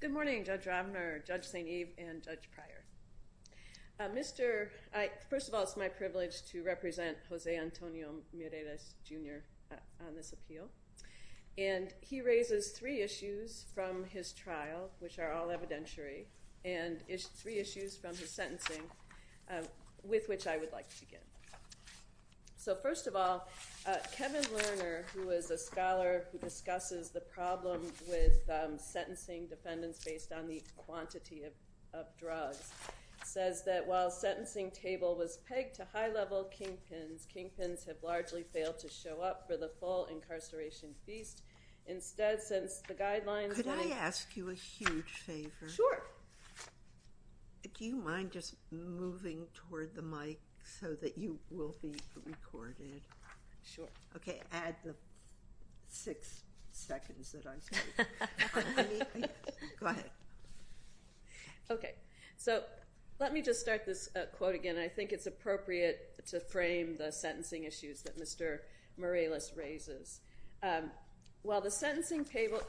Good morning, Judge Ravner, Judge St. Eve, and Judge Pryor. First of all, it's my privilege to represent Jose Antonio Mireles, Jr. on this appeal. He raises three issues from his trial, which are all evidentiary, and three issues from his sentencing with which I would like to begin. First of all, Kevin Lerner, who is a scholar who discusses the problem with sentencing defendants based on the quantity of drugs, says that while sentencing table was pegged to high-level kingpins, kingpins have largely failed to show up for the full incarceration feast. Instead, since the guidelines— Could I ask you a huge favor? Sure. Do you mind just moving toward the mic so that you will be recorded? Sure. Okay, add the six seconds that I'm speaking. Go ahead. Okay. So let me just start this quote again. I think it's appropriate to frame the sentencing issues that Mr. Mireles raises. While the sentencing table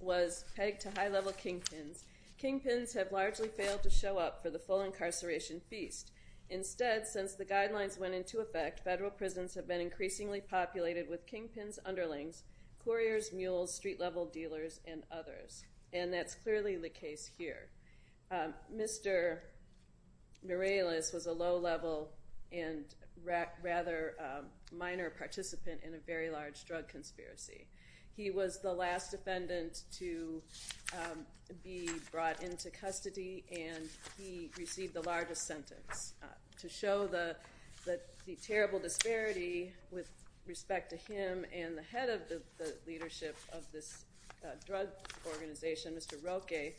was pegged to high-level kingpins, kingpins have largely failed to show up for the full incarceration feast. Instead, since the guidelines went into effect, federal prisons have been increasingly populated with kingpins, underlings, couriers, mules, street-level dealers, and others. And that's clearly the case here. Mr. Mireles was a low-level and rather minor participant in a very large drug conspiracy. He was the last defendant to be brought into custody, and he received the largest sentence. To show the terrible disparity with respect to him and the head of the leadership of this drug organization, Mr. Roque,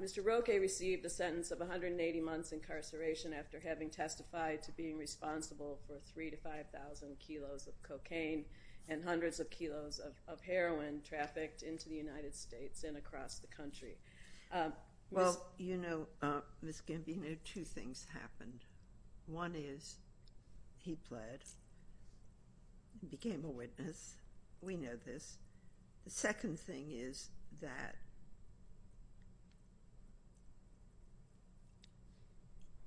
Mr. Roque received a sentence of 180 months incarceration after having testified to being responsible for 3,000 to 5,000 kilos of cocaine and hundreds of kilos of heroin trafficked into the United States and across the country. Well, you know, Ms. Gimby, two things happened. One is he bled, he became a witness. We know this. The second thing is that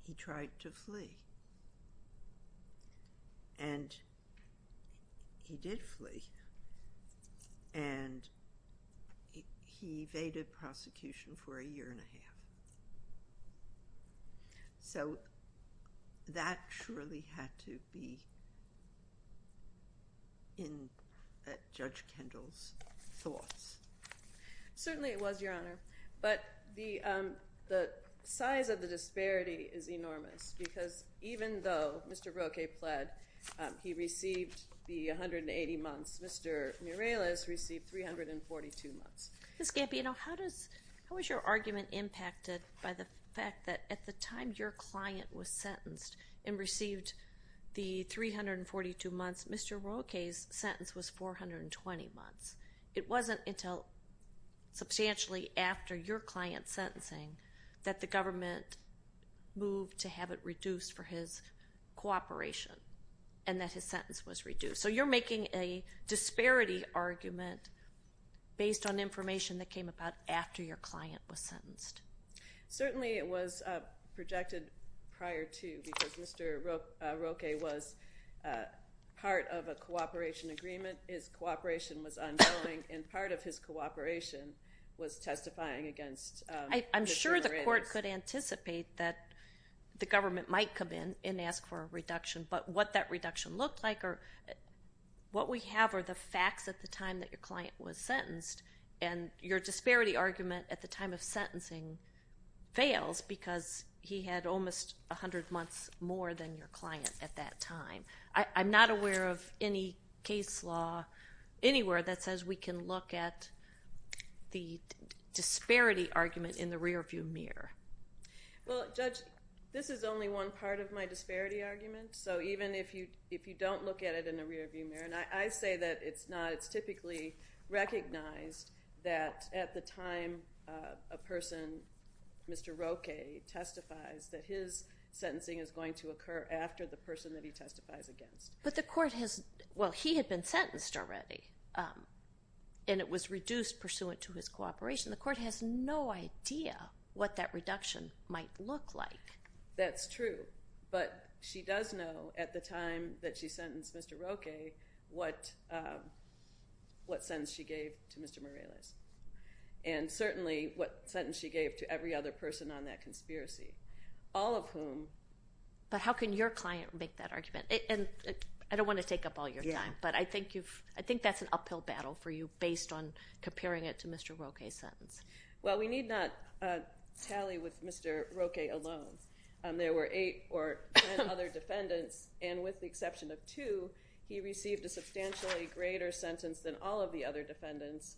he tried to flee, and he did flee, and he evaded prosecution for a year and a half. So that surely had to be in Judge Kendall's thoughts. Certainly it was, Your Honor, but the size of the disparity is enormous, because even though Mr. Roque bled, he received the 180 months. Mr. Mireles received 342 months. Ms. Gimby, you know, how is your argument impacted by the fact that at the time your client was sentenced and received the 342 months, Mr. Roque's sentence was 420 months? It wasn't until substantially after your client's sentencing that the government moved to have it reduced for his cooperation, and that his sentence was reduced. So you're making a disparity argument based on information that came about after your client was sentenced. Certainly it was projected prior to, because Mr. Roque was part of a cooperation agreement. His cooperation was ongoing, and part of his cooperation was testifying against Mr. Mireles. I'm sure the court could anticipate that the government might come in and ask for a reduction, but what that reduction looked like or what we have are the facts at the time that your client was sentenced, and your disparity argument at the time of sentencing fails, because he had almost 100 months more than your client at that time. I'm not aware of any case law anywhere that says we can look at the disparity argument in the rearview mirror. Well, Judge, this is only one part of my disparity argument, so even if you don't look at it in the rearview mirror, and I say that it's not. It's typically recognized that at the time a person, Mr. Roque, testifies that his sentencing is going to occur after the person that he testifies against. But the court has, well, he had been sentenced already, and it was reduced pursuant to his cooperation. The court has no idea what that reduction might look like. That's true, but she does know at the time that she sentenced Mr. Roque what sentence she gave to Mr. Mireles, and certainly what sentence she gave to every other person on that conspiracy, all of whom... But how can your client make that argument? I don't want to take up all your time, but I think that's an uphill battle for you based on comparing it to Mr. Roque's sentence. Well, we need not tally with Mr. Roque alone. There were eight or 10 other defendants, and with the exception of two, he received a substantially greater sentence than all of the other defendants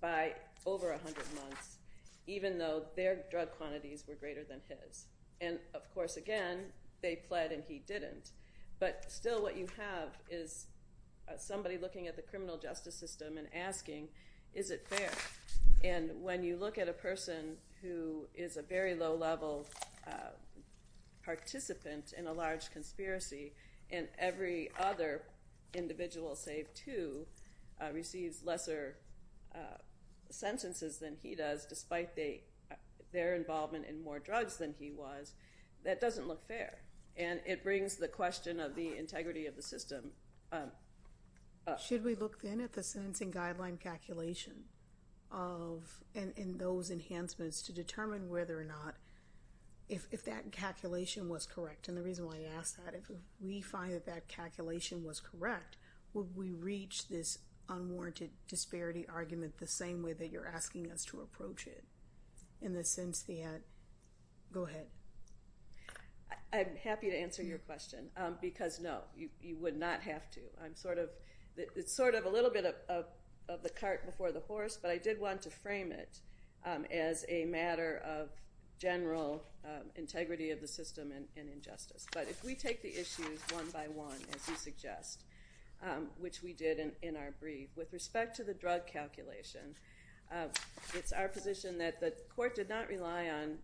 by over 100 months, even though their drug quantities were greater than his. And, of course, again, they pled and he didn't, but still what you have is somebody looking at the criminal justice system and asking, is it fair? And when you look at a person who is a very low-level participant in a large conspiracy and every other individual save two receives lesser sentences than he does, despite their involvement in more drugs than he was, that doesn't look fair. And it brings the question of the integrity of the system up. Should we look, then, at the sentencing guideline calculation and those enhancements to determine whether or not if that calculation was correct? And the reason why I ask that, if we find that that calculation was correct, would we reach this unwarranted disparity argument the same way that you're asking us to approach it in the sense that – go ahead. I'm happy to answer your question because, no, you would not have to. It's sort of a little bit of the cart before the horse, but I did want to frame it as a matter of general integrity of the system and injustice. But if we take the issues one by one, as you suggest, which we did in our brief, with respect to the drug calculation, it's our position that the court did not rely on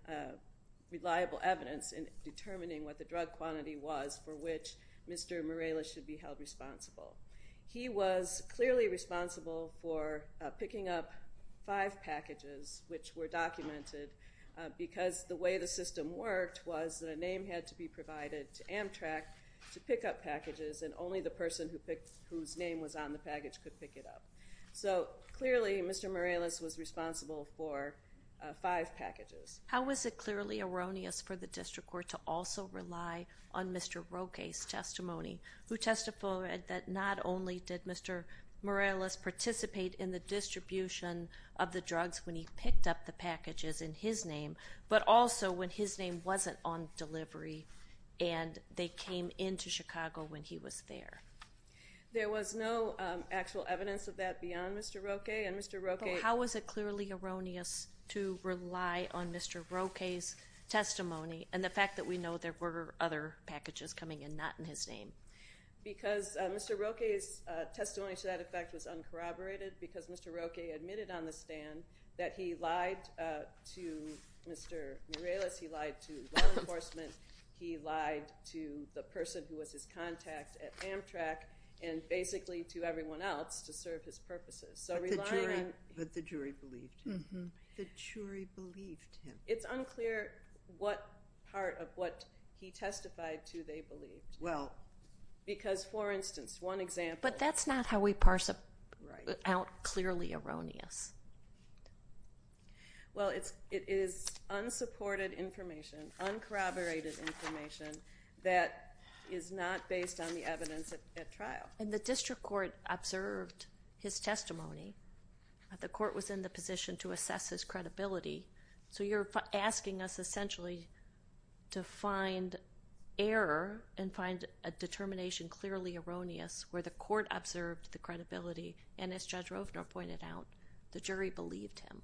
reliable evidence in determining what the drug quantity was for which Mr. Morales should be held responsible. He was clearly responsible for picking up five packages which were documented because the way the system worked was that a name had to be provided to Amtrak to pick up packages and only the person whose name was on the package could pick it up. So, clearly, Mr. Morales was responsible for five packages. How was it clearly erroneous for the district court to also rely on Mr. Roque's testimony who testified that not only did Mr. Morales participate in the distribution of the drugs when he picked up the packages in his name, but also when his name wasn't on delivery and they came into Chicago when he was there? There was no actual evidence of that beyond Mr. Roque. How was it clearly erroneous to rely on Mr. Roque's testimony and the fact that we know there were other packages coming in not in his name? Because Mr. Roque's testimony to that effect was uncorroborated because Mr. Roque admitted on the stand that he lied to Mr. Morales, he lied to law enforcement, he lied to the person who was his contact at Amtrak, and basically to everyone else to serve his purposes. But the jury believed him. The jury believed him. It's unclear what part of what he testified to they believed. Well... Because, for instance, one example... But that's not how we parse it out clearly erroneous. Well, it is unsupported information, uncorroborated information that is not based on the evidence at trial. And the district court observed his testimony. The court was in the position to assess his credibility. So you're asking us essentially to find error and find a determination clearly erroneous where the court observed the credibility and, as Judge Rovner pointed out, the jury believed him.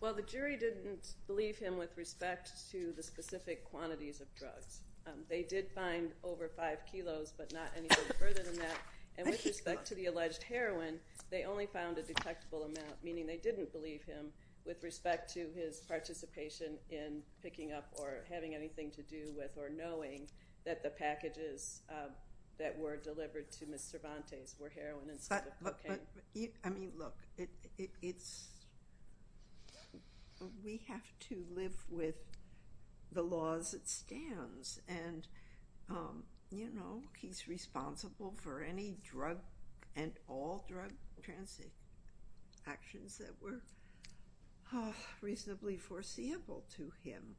Well, the jury didn't believe him with respect to the specific quantities of drugs. They did find over 5 kilos, but not anything further than that. And with respect to the alleged heroin, they only found a detectable amount, meaning they didn't believe him with respect to his participation in picking up or having anything to do with or knowing that the packages that were delivered to Ms. Cervantes were heroin instead of cocaine. But, I mean, look, it's... We have to live with the laws that stands. And, you know, he's responsible for any drug and all drug transactions that were reasonably foreseeable to him.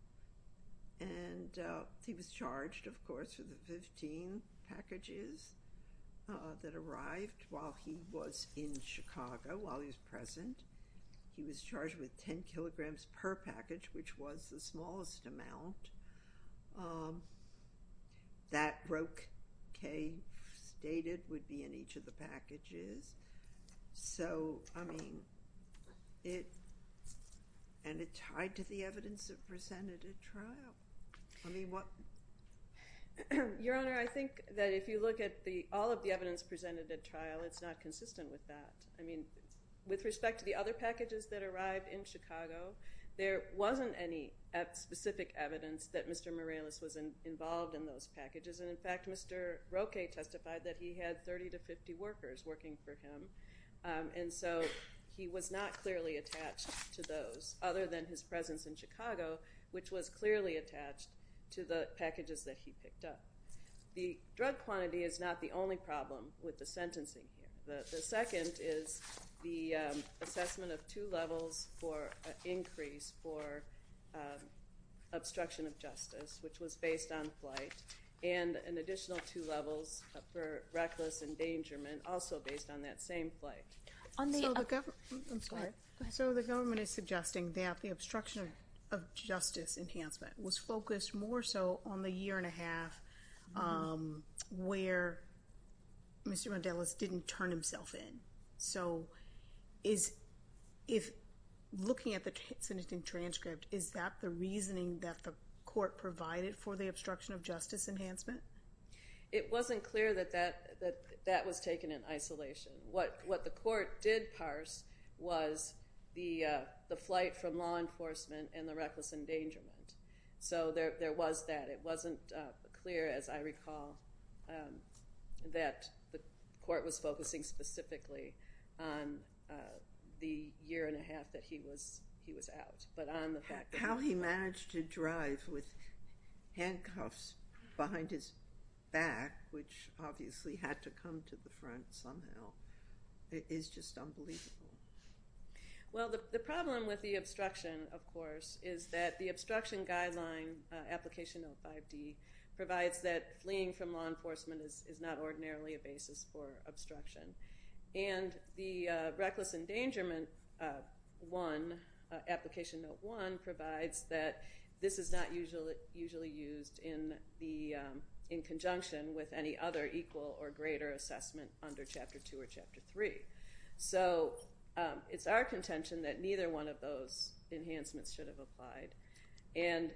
And he was charged, of course, with the 15 packages that arrived while he was in Chicago, while he was present. He was charged with 10 kilograms per package, which was the smallest amount. That brocade stated would be in each of the packages. So, I mean, it... And it tied to the evidence that presented at trial. I mean, what... Your Honor, I think that if you look at all of the evidence presented at trial, it's not consistent with that. I mean, with respect to the other packages that arrived in Chicago, there wasn't any specific evidence that Mr. Morales was involved in those packages. And, in fact, Mr. Roque testified that he had 30 to 50 workers working for him. And so he was not clearly attached to those, other than his presence in Chicago, which was clearly attached to the packages that he picked up. The drug quantity is not the only problem with the sentencing. The second is the assessment of two levels for an increase for obstruction of justice, which was based on flight, and an additional two levels for reckless endangerment, also based on that same flight. I'm sorry. So the government is suggesting that the obstruction of justice enhancement was focused more so on the year and a half where Mr. Rondellis didn't turn himself in. So looking at the sentencing transcript, is that the reasoning that the court provided for the obstruction of justice enhancement? It wasn't clear that that was taken in isolation. What the court did parse was the flight from law enforcement and the reckless endangerment. So there was that. It wasn't clear, as I recall, that the court was focusing specifically on the year and a half that he was out. How he managed to drive with handcuffs behind his back, which obviously had to come to the front somehow, is just unbelievable. Well, the problem with the obstruction, of course, is that the obstruction guideline, Application Note 5D, provides that fleeing from law enforcement is not ordinarily a basis for obstruction. And the reckless endangerment one, Application Note 1, provides that this is not usually used in conjunction with any other equal or greater assessment under Chapter 2 or Chapter 3. So it's our contention that neither one of those enhancements should have applied. And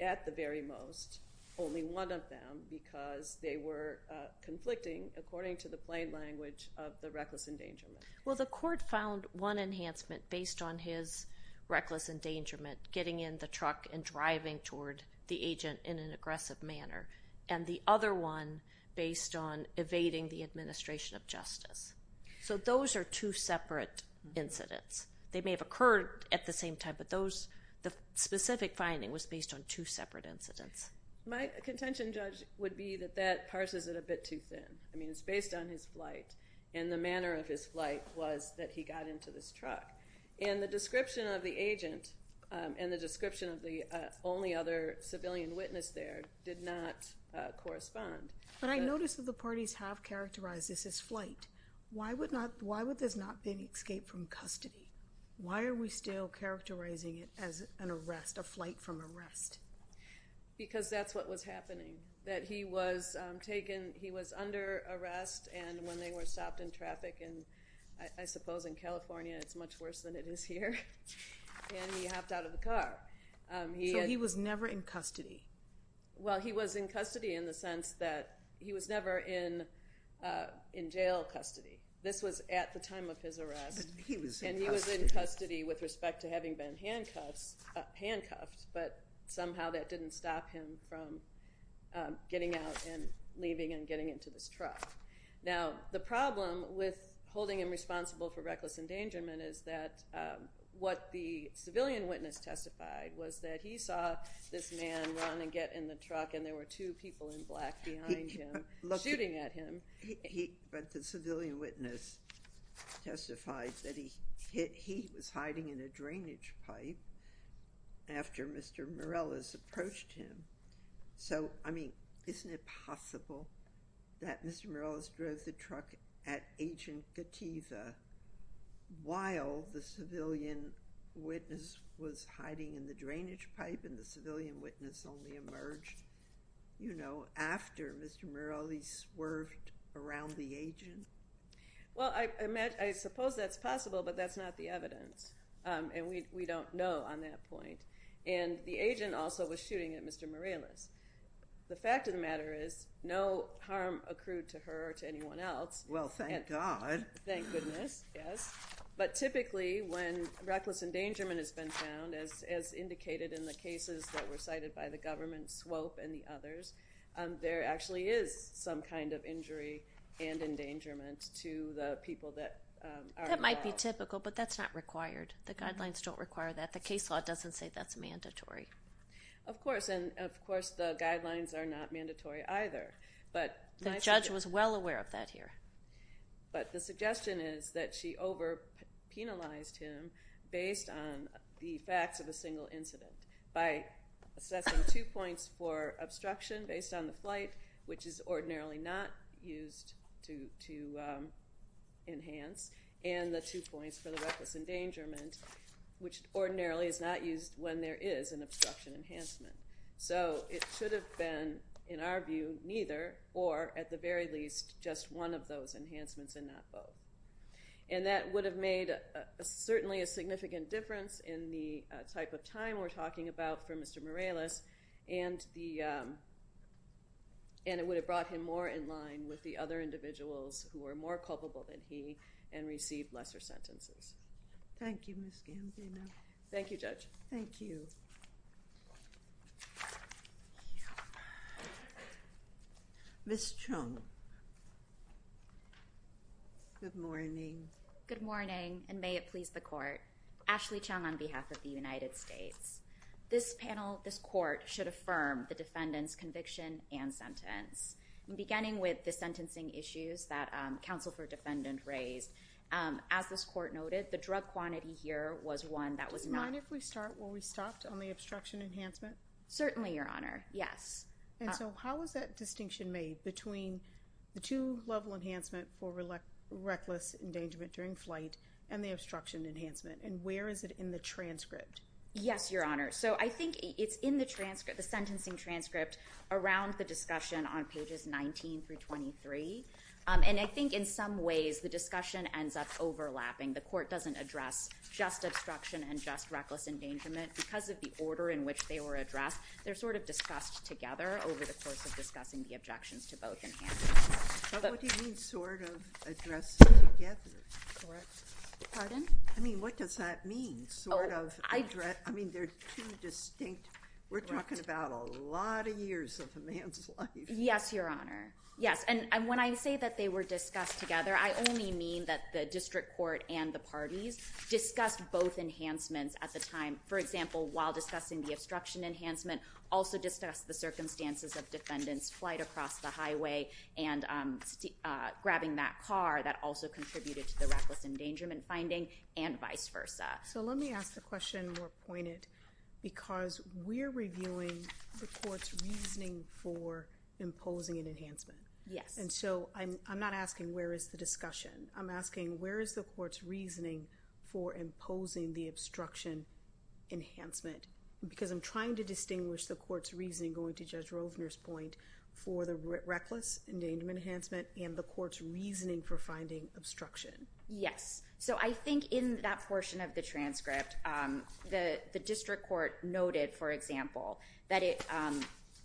at the very most, only one of them, because they were conflicting according to the plain language of the reckless endangerment. Well, the court found one enhancement based on his reckless endangerment, getting in the truck and driving toward the agent in an aggressive manner, and the other one based on evading the administration of justice. So those are two separate incidents. They may have occurred at the same time, but the specific finding was based on two separate incidents. My contention, Judge, would be that that parses it a bit too thin. I mean, it's based on his flight, and the manner of his flight was that he got into this truck. And the description of the agent and the description of the only other civilian witness there did not correspond. But I notice that the parties have characterized this as flight. Why would this not have been escaped from custody? Why are we still characterizing it as an arrest, a flight from arrest? Because that's what was happening, that he was taken. He was under arrest, and when they were stopped in traffic, and I suppose in California it's much worse than it is here, and he hopped out of the car. So he was never in custody? Well, he was in custody in the sense that he was never in jail custody. This was at the time of his arrest, and he was in custody with respect to having been handcuffed, but somehow that didn't stop him from getting out and leaving and getting into this truck. Now, the problem with holding him responsible for reckless endangerment is that what the civilian witness testified was that he saw this man run and get in the truck, and there were two people in black behind him shooting at him. But the civilian witness testified that he was hiding in a drainage pipe after Mr. Morales approached him. So, I mean, isn't it possible that Mr. Morales drove the truck at Agent Kativa while the civilian witness was hiding in the drainage pipe, and the civilian witness only emerged after Mr. Morales swerved around the agent? Well, I suppose that's possible, but that's not the evidence, and we don't know on that point. And the agent also was shooting at Mr. Morales. The fact of the matter is no harm accrued to her or to anyone else. Well, thank God. Thank goodness, yes. But typically when reckless endangerment has been found, as indicated in the cases that were cited by the government, SWOPE and the others, there actually is some kind of injury and endangerment to the people that are involved. That might be typical, but that's not required. The guidelines don't require that. The case law doesn't say that's mandatory. Of course, and of course the guidelines are not mandatory either. The judge was well aware of that here. But the suggestion is that she over-penalized him based on the facts of a single incident by assessing two points for obstruction based on the flight, which is ordinarily not used to enhance, and the two points for the reckless endangerment, which ordinarily is not used when there is an obstruction enhancement. So it should have been, in our view, neither or, at the very least, just one of those enhancements and not both. And that would have made certainly a significant difference in the type of time we're talking about for Mr. Morales, and it would have brought him more in line with the other individuals who were more culpable than he and received lesser sentences. Thank you, Ms. Gandino. Thank you, Judge. Thank you. Ms. Chung. Good morning. Good morning, and may it please the Court. Ashley Chung on behalf of the United States. This panel, this Court, should affirm the defendant's conviction and sentence. Beginning with the sentencing issues that counsel for defendant raised, as this Court noted, the drug quantity here was one that was not Certainly, your Honor. Yes. And so how is that distinction made between the two level enhancement for reckless endangerment during flight and the obstruction enhancement? And where is it in the transcript? Yes, your Honor. So I think it's in the transcript, the sentencing transcript, around the discussion on pages 19 through 23, and I think in some ways, the discussion ends up overlapping. The court doesn't address just obstruction and just reckless endangerment because of the order in which they were addressed. They're sort of discussed together over the course of discussing the objections to both enhancements. But what do you mean, sort of addressed together? Pardon? I mean, what does that mean, sort of? I mean, they're too distinct. We're talking about a lot of years of a man's life. Yes, your Honor. Yes. And when I say that they were discussed together, I only mean that the district court and the parties discussed both enhancements at the time. For example, while discussing the obstruction enhancement, also discussed the circumstances of defendants' flight across the highway and grabbing that car that also contributed to the reckless endangerment finding and vice versa. So let me ask the question more pointed because we're reviewing the court's reasoning for imposing an enhancement. Yes. And so I'm not asking where is the discussion. I'm asking where is the court's reasoning for imposing the obstruction enhancement because I'm trying to distinguish the court's reasoning going to Judge Rovner's point for the reckless endangerment enhancement and the court's reasoning for finding obstruction. Yes. So I think in that portion of the transcript, the district court noted, for example, that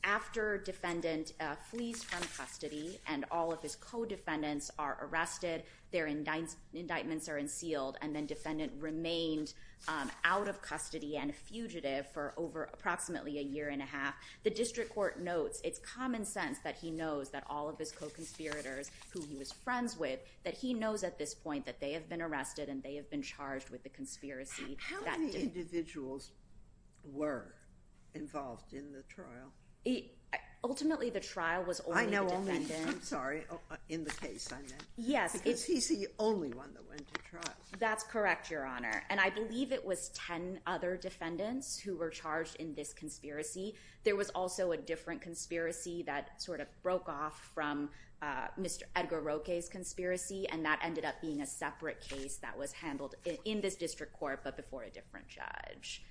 after defendant flees from custody and all of his co-defendants are arrested, their indictments are unsealed and then defendant remained out of custody and a fugitive for over approximately a year and a half, the district court notes, it's common sense that he knows that all of his co-conspirators who he was friends with, that he knows at this point that they have been arrested and they have been charged with the conspiracy. How many individuals were involved in the trial? Ultimately, the trial was only the defendant. I'm sorry, in the case I'm in. Yes. Because he's the only one that went to trial. That's correct, Your Honor. And I believe it was 10 other defendants who were charged in this conspiracy. There was also a different conspiracy that sort of broke off from Mr. Edgar Roque's conspiracy and that ended up being a separate case that was handled in this district court but before a different judge.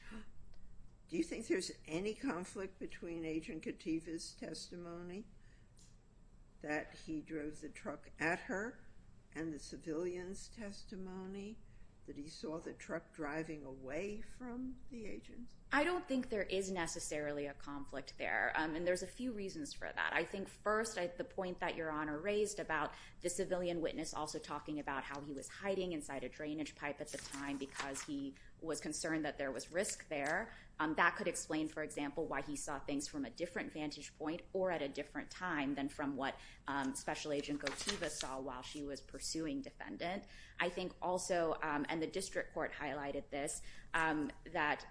Do you think there's any conflict between Agent Katiba's testimony that he drove the truck at her and the civilian's testimony that he saw the truck driving away from the agent? I don't think there is necessarily a conflict there and there's a few reasons for that. I think first, the point that Your Honor raised about the civilian witness also talking about how he was hiding inside a drainage pipe at the time because he was concerned that there was risk there. That could explain, for example, why he saw things from a different vantage point or at a different time than from what Special Agent Katiba saw while she was pursuing defendant. I think also, and the district court highlighted this, that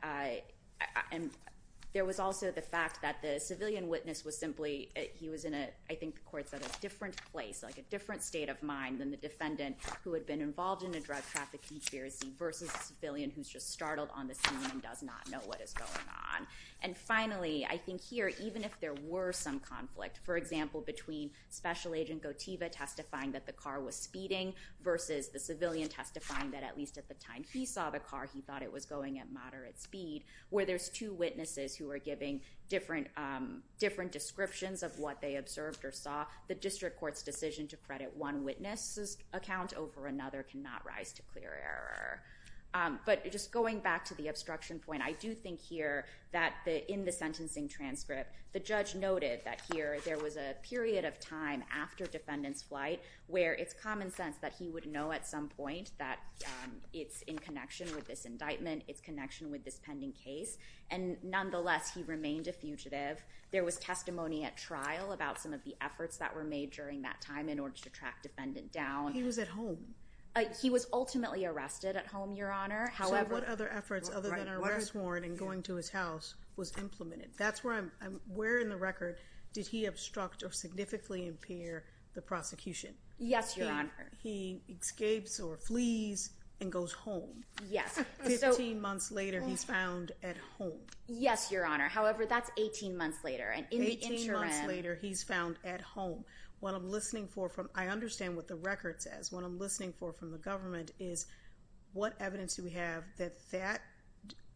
there was also the fact that the civilian witness was simply, he was in a, I think the court said, a different place, like a different state of mind than the defendant who had been involved in a drug traffic conspiracy versus the civilian who's just startled on the scene and does not know what is going on. Finally, I think here, even if there were some conflict, for example, between Special Agent Katiba testifying that the car was speeding versus the civilian testifying that at least at the time he saw the car, he thought it was going at moderate speed, where there's two witnesses who are giving different descriptions of what they observed or saw, the district court's decision to credit one witness's account over another cannot rise to clear error. But just going back to the obstruction point, I do think here that in the sentencing transcript, the judge noted that here there was a period of time after defendant's flight where it's common sense that he would know at some point that it's in connection with this indictment, it's connection with this pending case, and nonetheless, he remained a fugitive. There was testimony at trial about some of the efforts that were made during that time in order to track defendant down. He was at home. He was ultimately arrested at home, Your Honor. So what other efforts other than an arrest warrant and going to his house was implemented? That's where in the record did he obstruct or significantly impair the prosecution? Yes, Your Honor. He escapes or flees and goes home. Yes. Fifteen months later, he's found at home. Yes, Your Honor. However, that's 18 months later. Eighteen months later, he's found at home. I understand what the record says. What I'm listening for from the government is what evidence do we have that that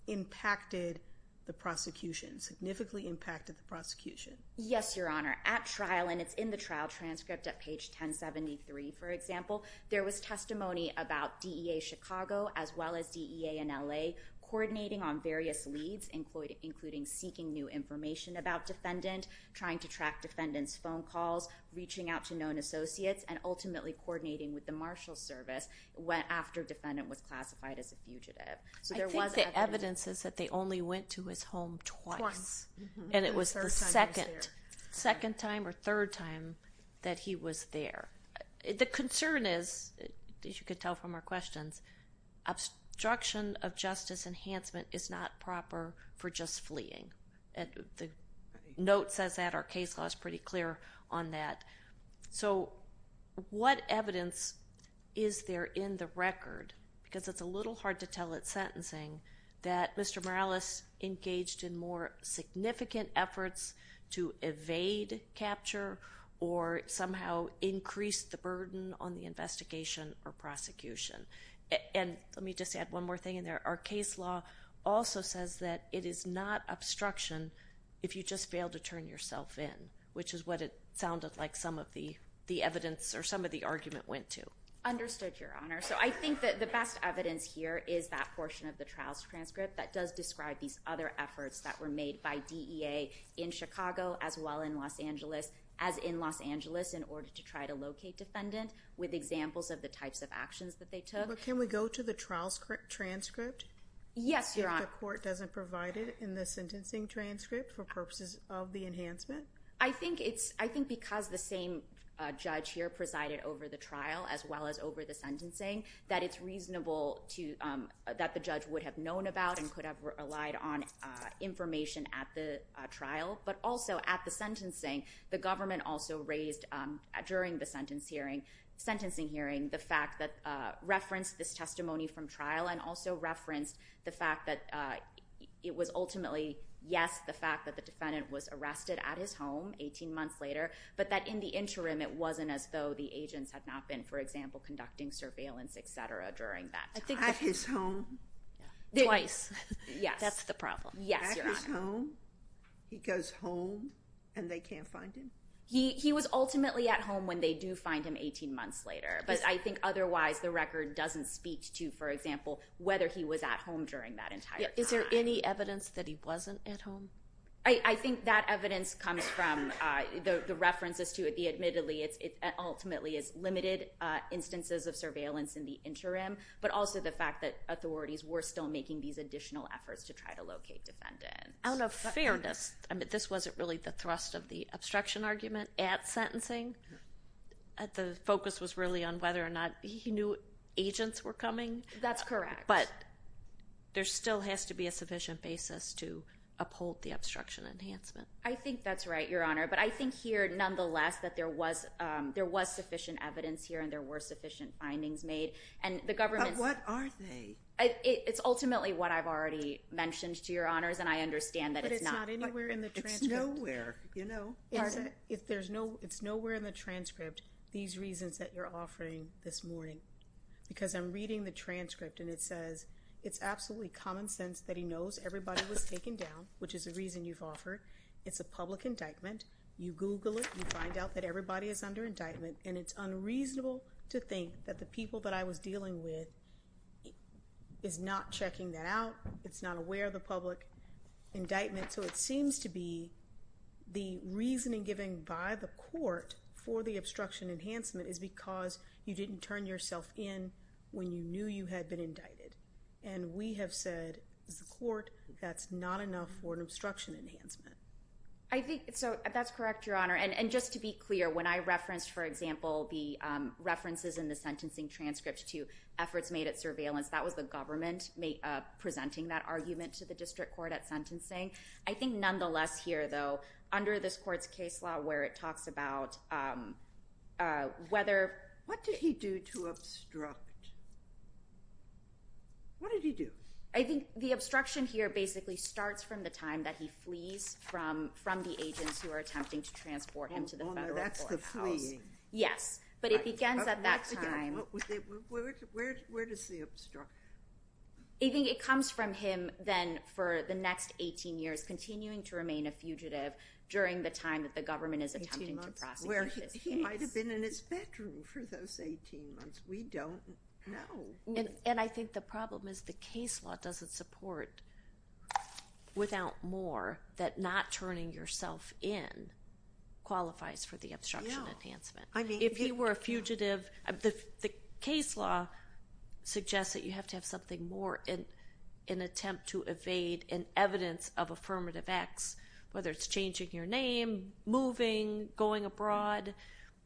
impacted the prosecution, significantly impacted the prosecution? Yes, Your Honor. At trial, and it's in the trial transcript at page 1073, for example, there was testimony about DEA Chicago as well as DEA in LA coordinating on various leads, including seeking new information about defendant, trying to track defendant's phone calls, reaching out to known associates, and ultimately coordinating with the marshal service after defendant was classified as a fugitive. I think the evidence is that they only went to his home twice. Twice. And it was the second time or third time that he was there. The concern is, as you can tell from our questions, that obstruction of justice enhancement is not proper for just fleeing. The note says that. Our case law is pretty clear on that. So what evidence is there in the record, because it's a little hard to tell at sentencing, that Mr. Morales engaged in more significant efforts to evade capture or somehow increase the burden on the investigation or prosecution. And let me just add one more thing in there. Our case law also says that it is not obstruction if you just fail to turn yourself in, which is what it sounded like some of the evidence or some of the argument went to. Understood, Your Honor. So I think that the best evidence here is that portion of the trial transcript that does describe these other efforts that were made by DEA in Chicago as well in Los Angeles, as in Los Angeles, in order to try to locate defendant with examples of the types of actions that they took. But can we go to the trial transcript? Yes, Your Honor. If the court doesn't provide it in the sentencing transcript for purposes of the enhancement? I think because the same judge here presided over the trial as well as over the sentencing, that it's reasonable that the judge would have known about and could have relied on information at the trial, but also at the sentencing, the government also raised during the sentencing hearing the fact that referenced this testimony from trial and also referenced the fact that it was ultimately, yes, the fact that the defendant was arrested at his home 18 months later, but that in the interim it wasn't as though the agents had not been, for example, conducting surveillance, et cetera, during that time. At his home? Twice. Yes. That's the problem. Yes, Your Honor. He goes home and they can't find him? He was ultimately at home when they do find him 18 months later, but I think otherwise the record doesn't speak to, for example, whether he was at home during that entire time. Is there any evidence that he wasn't at home? I think that evidence comes from the references to it. Admittedly, it ultimately is limited instances of surveillance in the interim, but also the fact that authorities were still making these additional efforts to try to locate defendants. Out of fairness, this wasn't really the thrust of the obstruction argument at sentencing. The focus was really on whether or not he knew agents were coming. That's correct. But there still has to be a sufficient basis to uphold the obstruction enhancement. I think that's right, Your Honor, but I think here nonetheless that there was sufficient evidence here and there were sufficient findings made. But what are they? It's ultimately what I've already mentioned to Your Honors, and I understand that it's not anywhere in the transcript. It's nowhere. Pardon? It's nowhere in the transcript, these reasons that you're offering this morning, because I'm reading the transcript, and it says, it's absolutely common sense that he knows everybody was taken down, which is the reason you've offered. It's a public indictment. You Google it. You find out that everybody is under indictment, and it's unreasonable to think that the people that I was dealing with is not checking that out. It's not aware of the public indictment. So it seems to be the reasoning given by the court for the obstruction enhancement is because you didn't turn yourself in when you knew you had been indicted. And we have said, as a court, that's not enough for an obstruction enhancement. I think so. That's correct, Your Honor. And just to be clear, when I referenced, for example, the references in the sentencing transcript to efforts made at surveillance, that was the government presenting that argument to the district court at sentencing. I think nonetheless here, though, under this court's case law where it talks about whether— What did he do to obstruct? What did he do? I think the obstruction here basically starts from the time that he flees from the agents who are attempting to transport him to the federal courthouse. The fleeing. Yes, but it begins at that time. Where does the obstruction— I think it comes from him then for the next 18 years continuing to remain a fugitive during the time that the government is attempting to prosecute his case. He might have been in his bedroom for those 18 months. We don't know. And I think the problem is the case law doesn't support, without more, that not turning yourself in qualifies for the obstruction enhancement. If he were a fugitive— The case law suggests that you have to have something more in attempt to evade an evidence of affirmative acts, whether it's changing your name, moving, going abroad.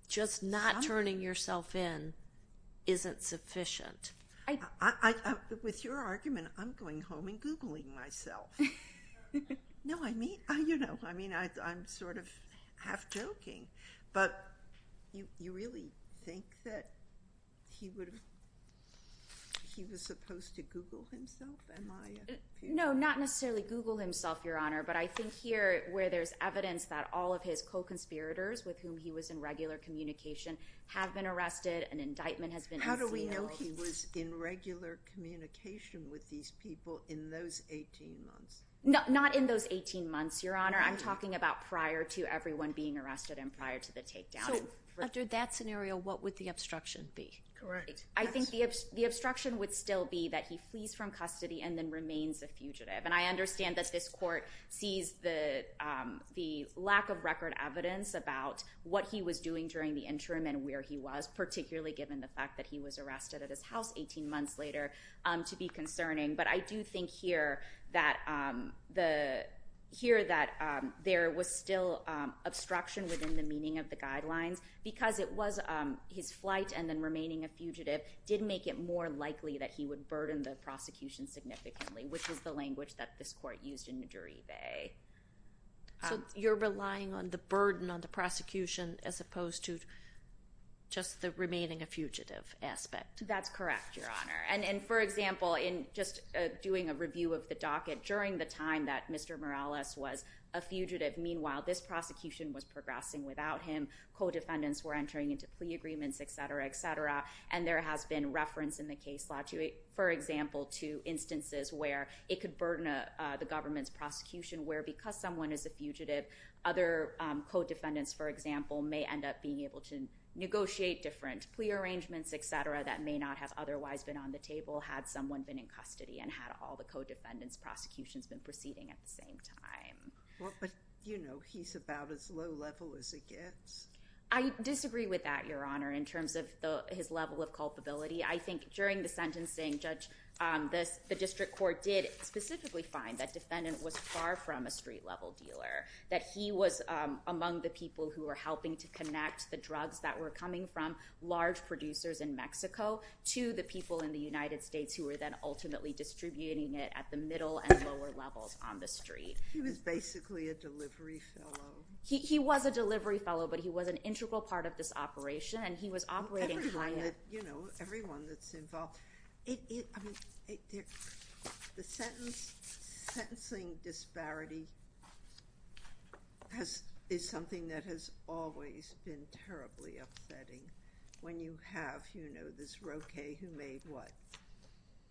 Just not turning yourself in isn't sufficient. With your argument, I'm going home and Googling myself. No, I mean, I'm sort of half joking, but you really think that he was supposed to Google himself? No, not necessarily Google himself, Your Honor, but I think here where there's evidence that all of his co-conspirators with whom he was in regular communication have been arrested, an indictment has been sealed— Not in those 18 months, Your Honor. I'm talking about prior to everyone being arrested and prior to the takedown. So after that scenario, what would the obstruction be? I think the obstruction would still be that he flees from custody and then remains a fugitive. And I understand that this court sees the lack of record evidence about what he was doing during the interim and where he was, particularly given the fact that he was arrested at his house 18 months later, to be concerning. But I do think here that there was still obstruction within the meaning of the guidelines because it was his flight and then remaining a fugitive did make it more likely that he would burden the prosecution significantly, which is the language that this court used in the jury bay. So you're relying on the burden on the prosecution as opposed to just the remaining a fugitive aspect? That's correct, Your Honor. And for example, in just doing a review of the docket, during the time that Mr. Morales was a fugitive, meanwhile, this prosecution was progressing without him. Co-defendants were entering into plea agreements, et cetera, et cetera. And there has been reference in the case law, for example, to instances where it could burden the government's prosecution where because someone is a fugitive, other co-defendants, for example, may end up being able to negotiate different plea arrangements, et cetera, that may not have otherwise been on the table had someone been in custody and had all the co-defendants' prosecutions been proceeding at the same time. But, you know, he's about as low level as it gets. I disagree with that, Your Honor, in terms of his level of culpability. I think during the sentencing, Judge, the district court did specifically find that defendant was far from a street-level dealer, that he was among the people who were helping to connect the drugs that were coming from large producers in Mexico to the people in the United States who were then ultimately distributing it at the middle and lower levels on the street. He was basically a delivery fellow. He was a delivery fellow, but he was an integral part of this operation, and he was operating higher. You know, everyone that's involved... The sentencing disparity is something that has always been terribly upsetting. When you have, you know, this Roque who made what?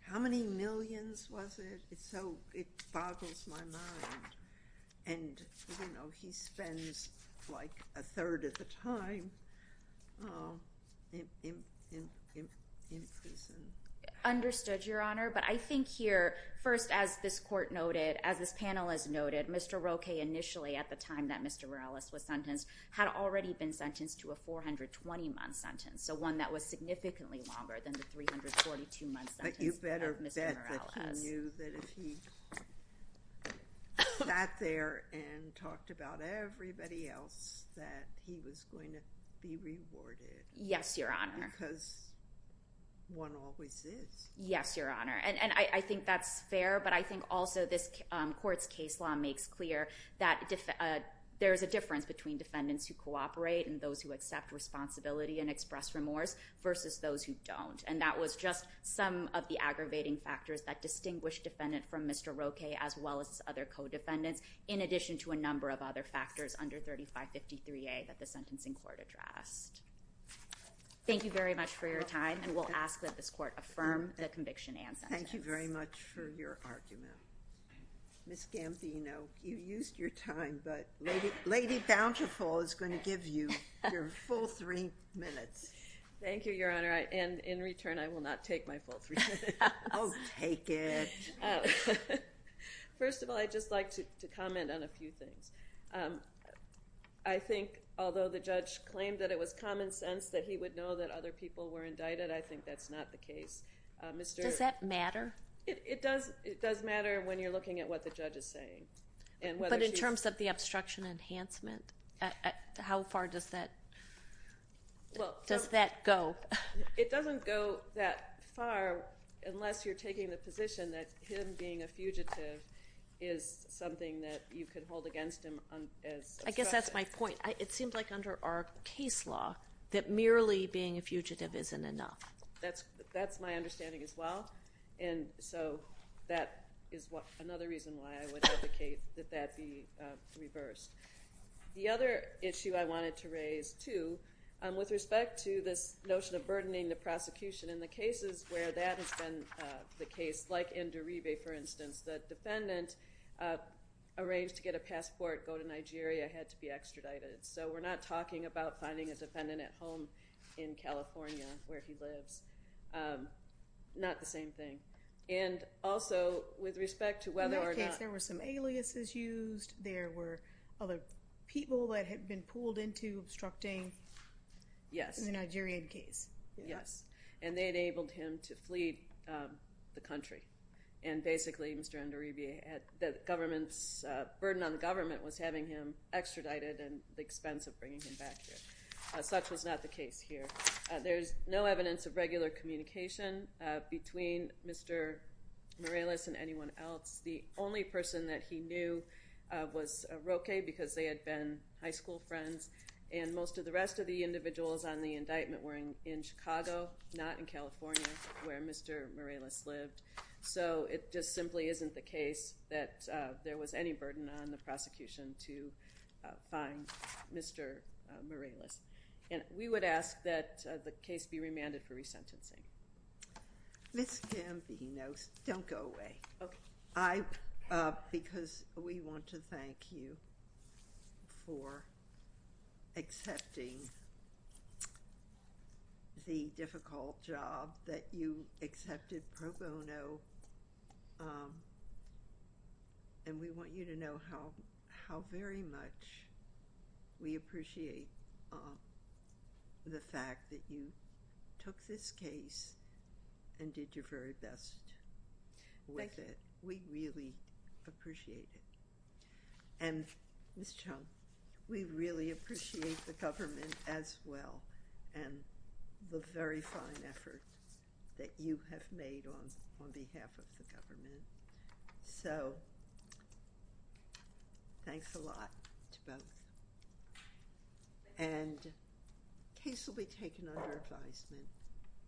How many millions was it? It boggles my mind. And, you know, he spends, like, a third of the time in prison. Understood, Your Honor, but I think here, first, as this court noted, as this panel has noted, Mr. Roque, initially, at the time that Mr. Morales was sentenced, had already been sentenced to a 420-month sentence, so one that was significantly longer than the 342-month sentence of Mr. Morales. But you better bet that he knew that if he sat there and talked about everybody else, that he was going to be rewarded. Yes, Your Honor. Because one always is. Yes, Your Honor, and I think that's fair, but I think also this court's case law makes clear that there's a difference between defendants who cooperate and those who accept responsibility and express remorse versus those who don't, and that was just some of the aggravating factors that distinguished defendant from Mr. Roque as well as other co-defendants, in addition to a number of other factors under 3553A that the sentencing court addressed. Thank you very much for your time, and we'll ask that this court affirm the conviction and sentence. Thank you very much for your argument. Ms. Gambino, you used your time, but Lady Bountiful is going to give you your full three minutes. Thank you, Your Honor, and in return, I will not take my full three minutes. Oh, take it. First of all, I'd just like to comment on a few things. that he would know that other people were indicted, I think that's not the case. Does that matter? It does matter when you're looking at what the judge is saying. But in terms of the obstruction enhancement, how far does that go? It doesn't go that far unless you're taking the position that him being a fugitive is something that you could hold against him as obstruction. I guess that's my point. It seems like under our case law that merely being a fugitive isn't enough. That's my understanding as well, and so that is another reason why I would advocate that that be reversed. The other issue I wanted to raise, too, with respect to this notion of burdening the prosecution in the cases where that has been the case, like in Derive, for instance, the defendant arranged to get a passport, go to Nigeria, had to be extradited. So we're not talking about finding a defendant at home in California where he lives. Not the same thing. And also with respect to whether or not... In that case, there were some aliases used. There were other people that had been pulled into obstructing in the Nigerian case. Yes, and they enabled him to flee the country. And basically, Mr. Nderibe, the government's burden on the government was having him extradited at the expense of bringing him back here. Such was not the case here. There's no evidence of regular communication between Mr. Morales and anyone else. The only person that he knew was Roque because they had been high school friends, and most of the rest of the individuals on the indictment were in Chicago, not in California, where Mr. Morales lived. So it just simply isn't the case that there was any burden on the prosecution to find Mr. Morales. And we would ask that the case be remanded for resentencing. Ms. Gambino, don't go away. Okay. Because we want to thank you for accepting the difficult job that you accepted pro bono, and we want you to know how very much we appreciate the fact that you took this case and did your very best with it. Thank you. We really appreciate it. And Ms. Chung, we really appreciate the government as well and the very fine effort that you have made on behalf of the government. So thanks a lot to both. And the case will be taken under advisement.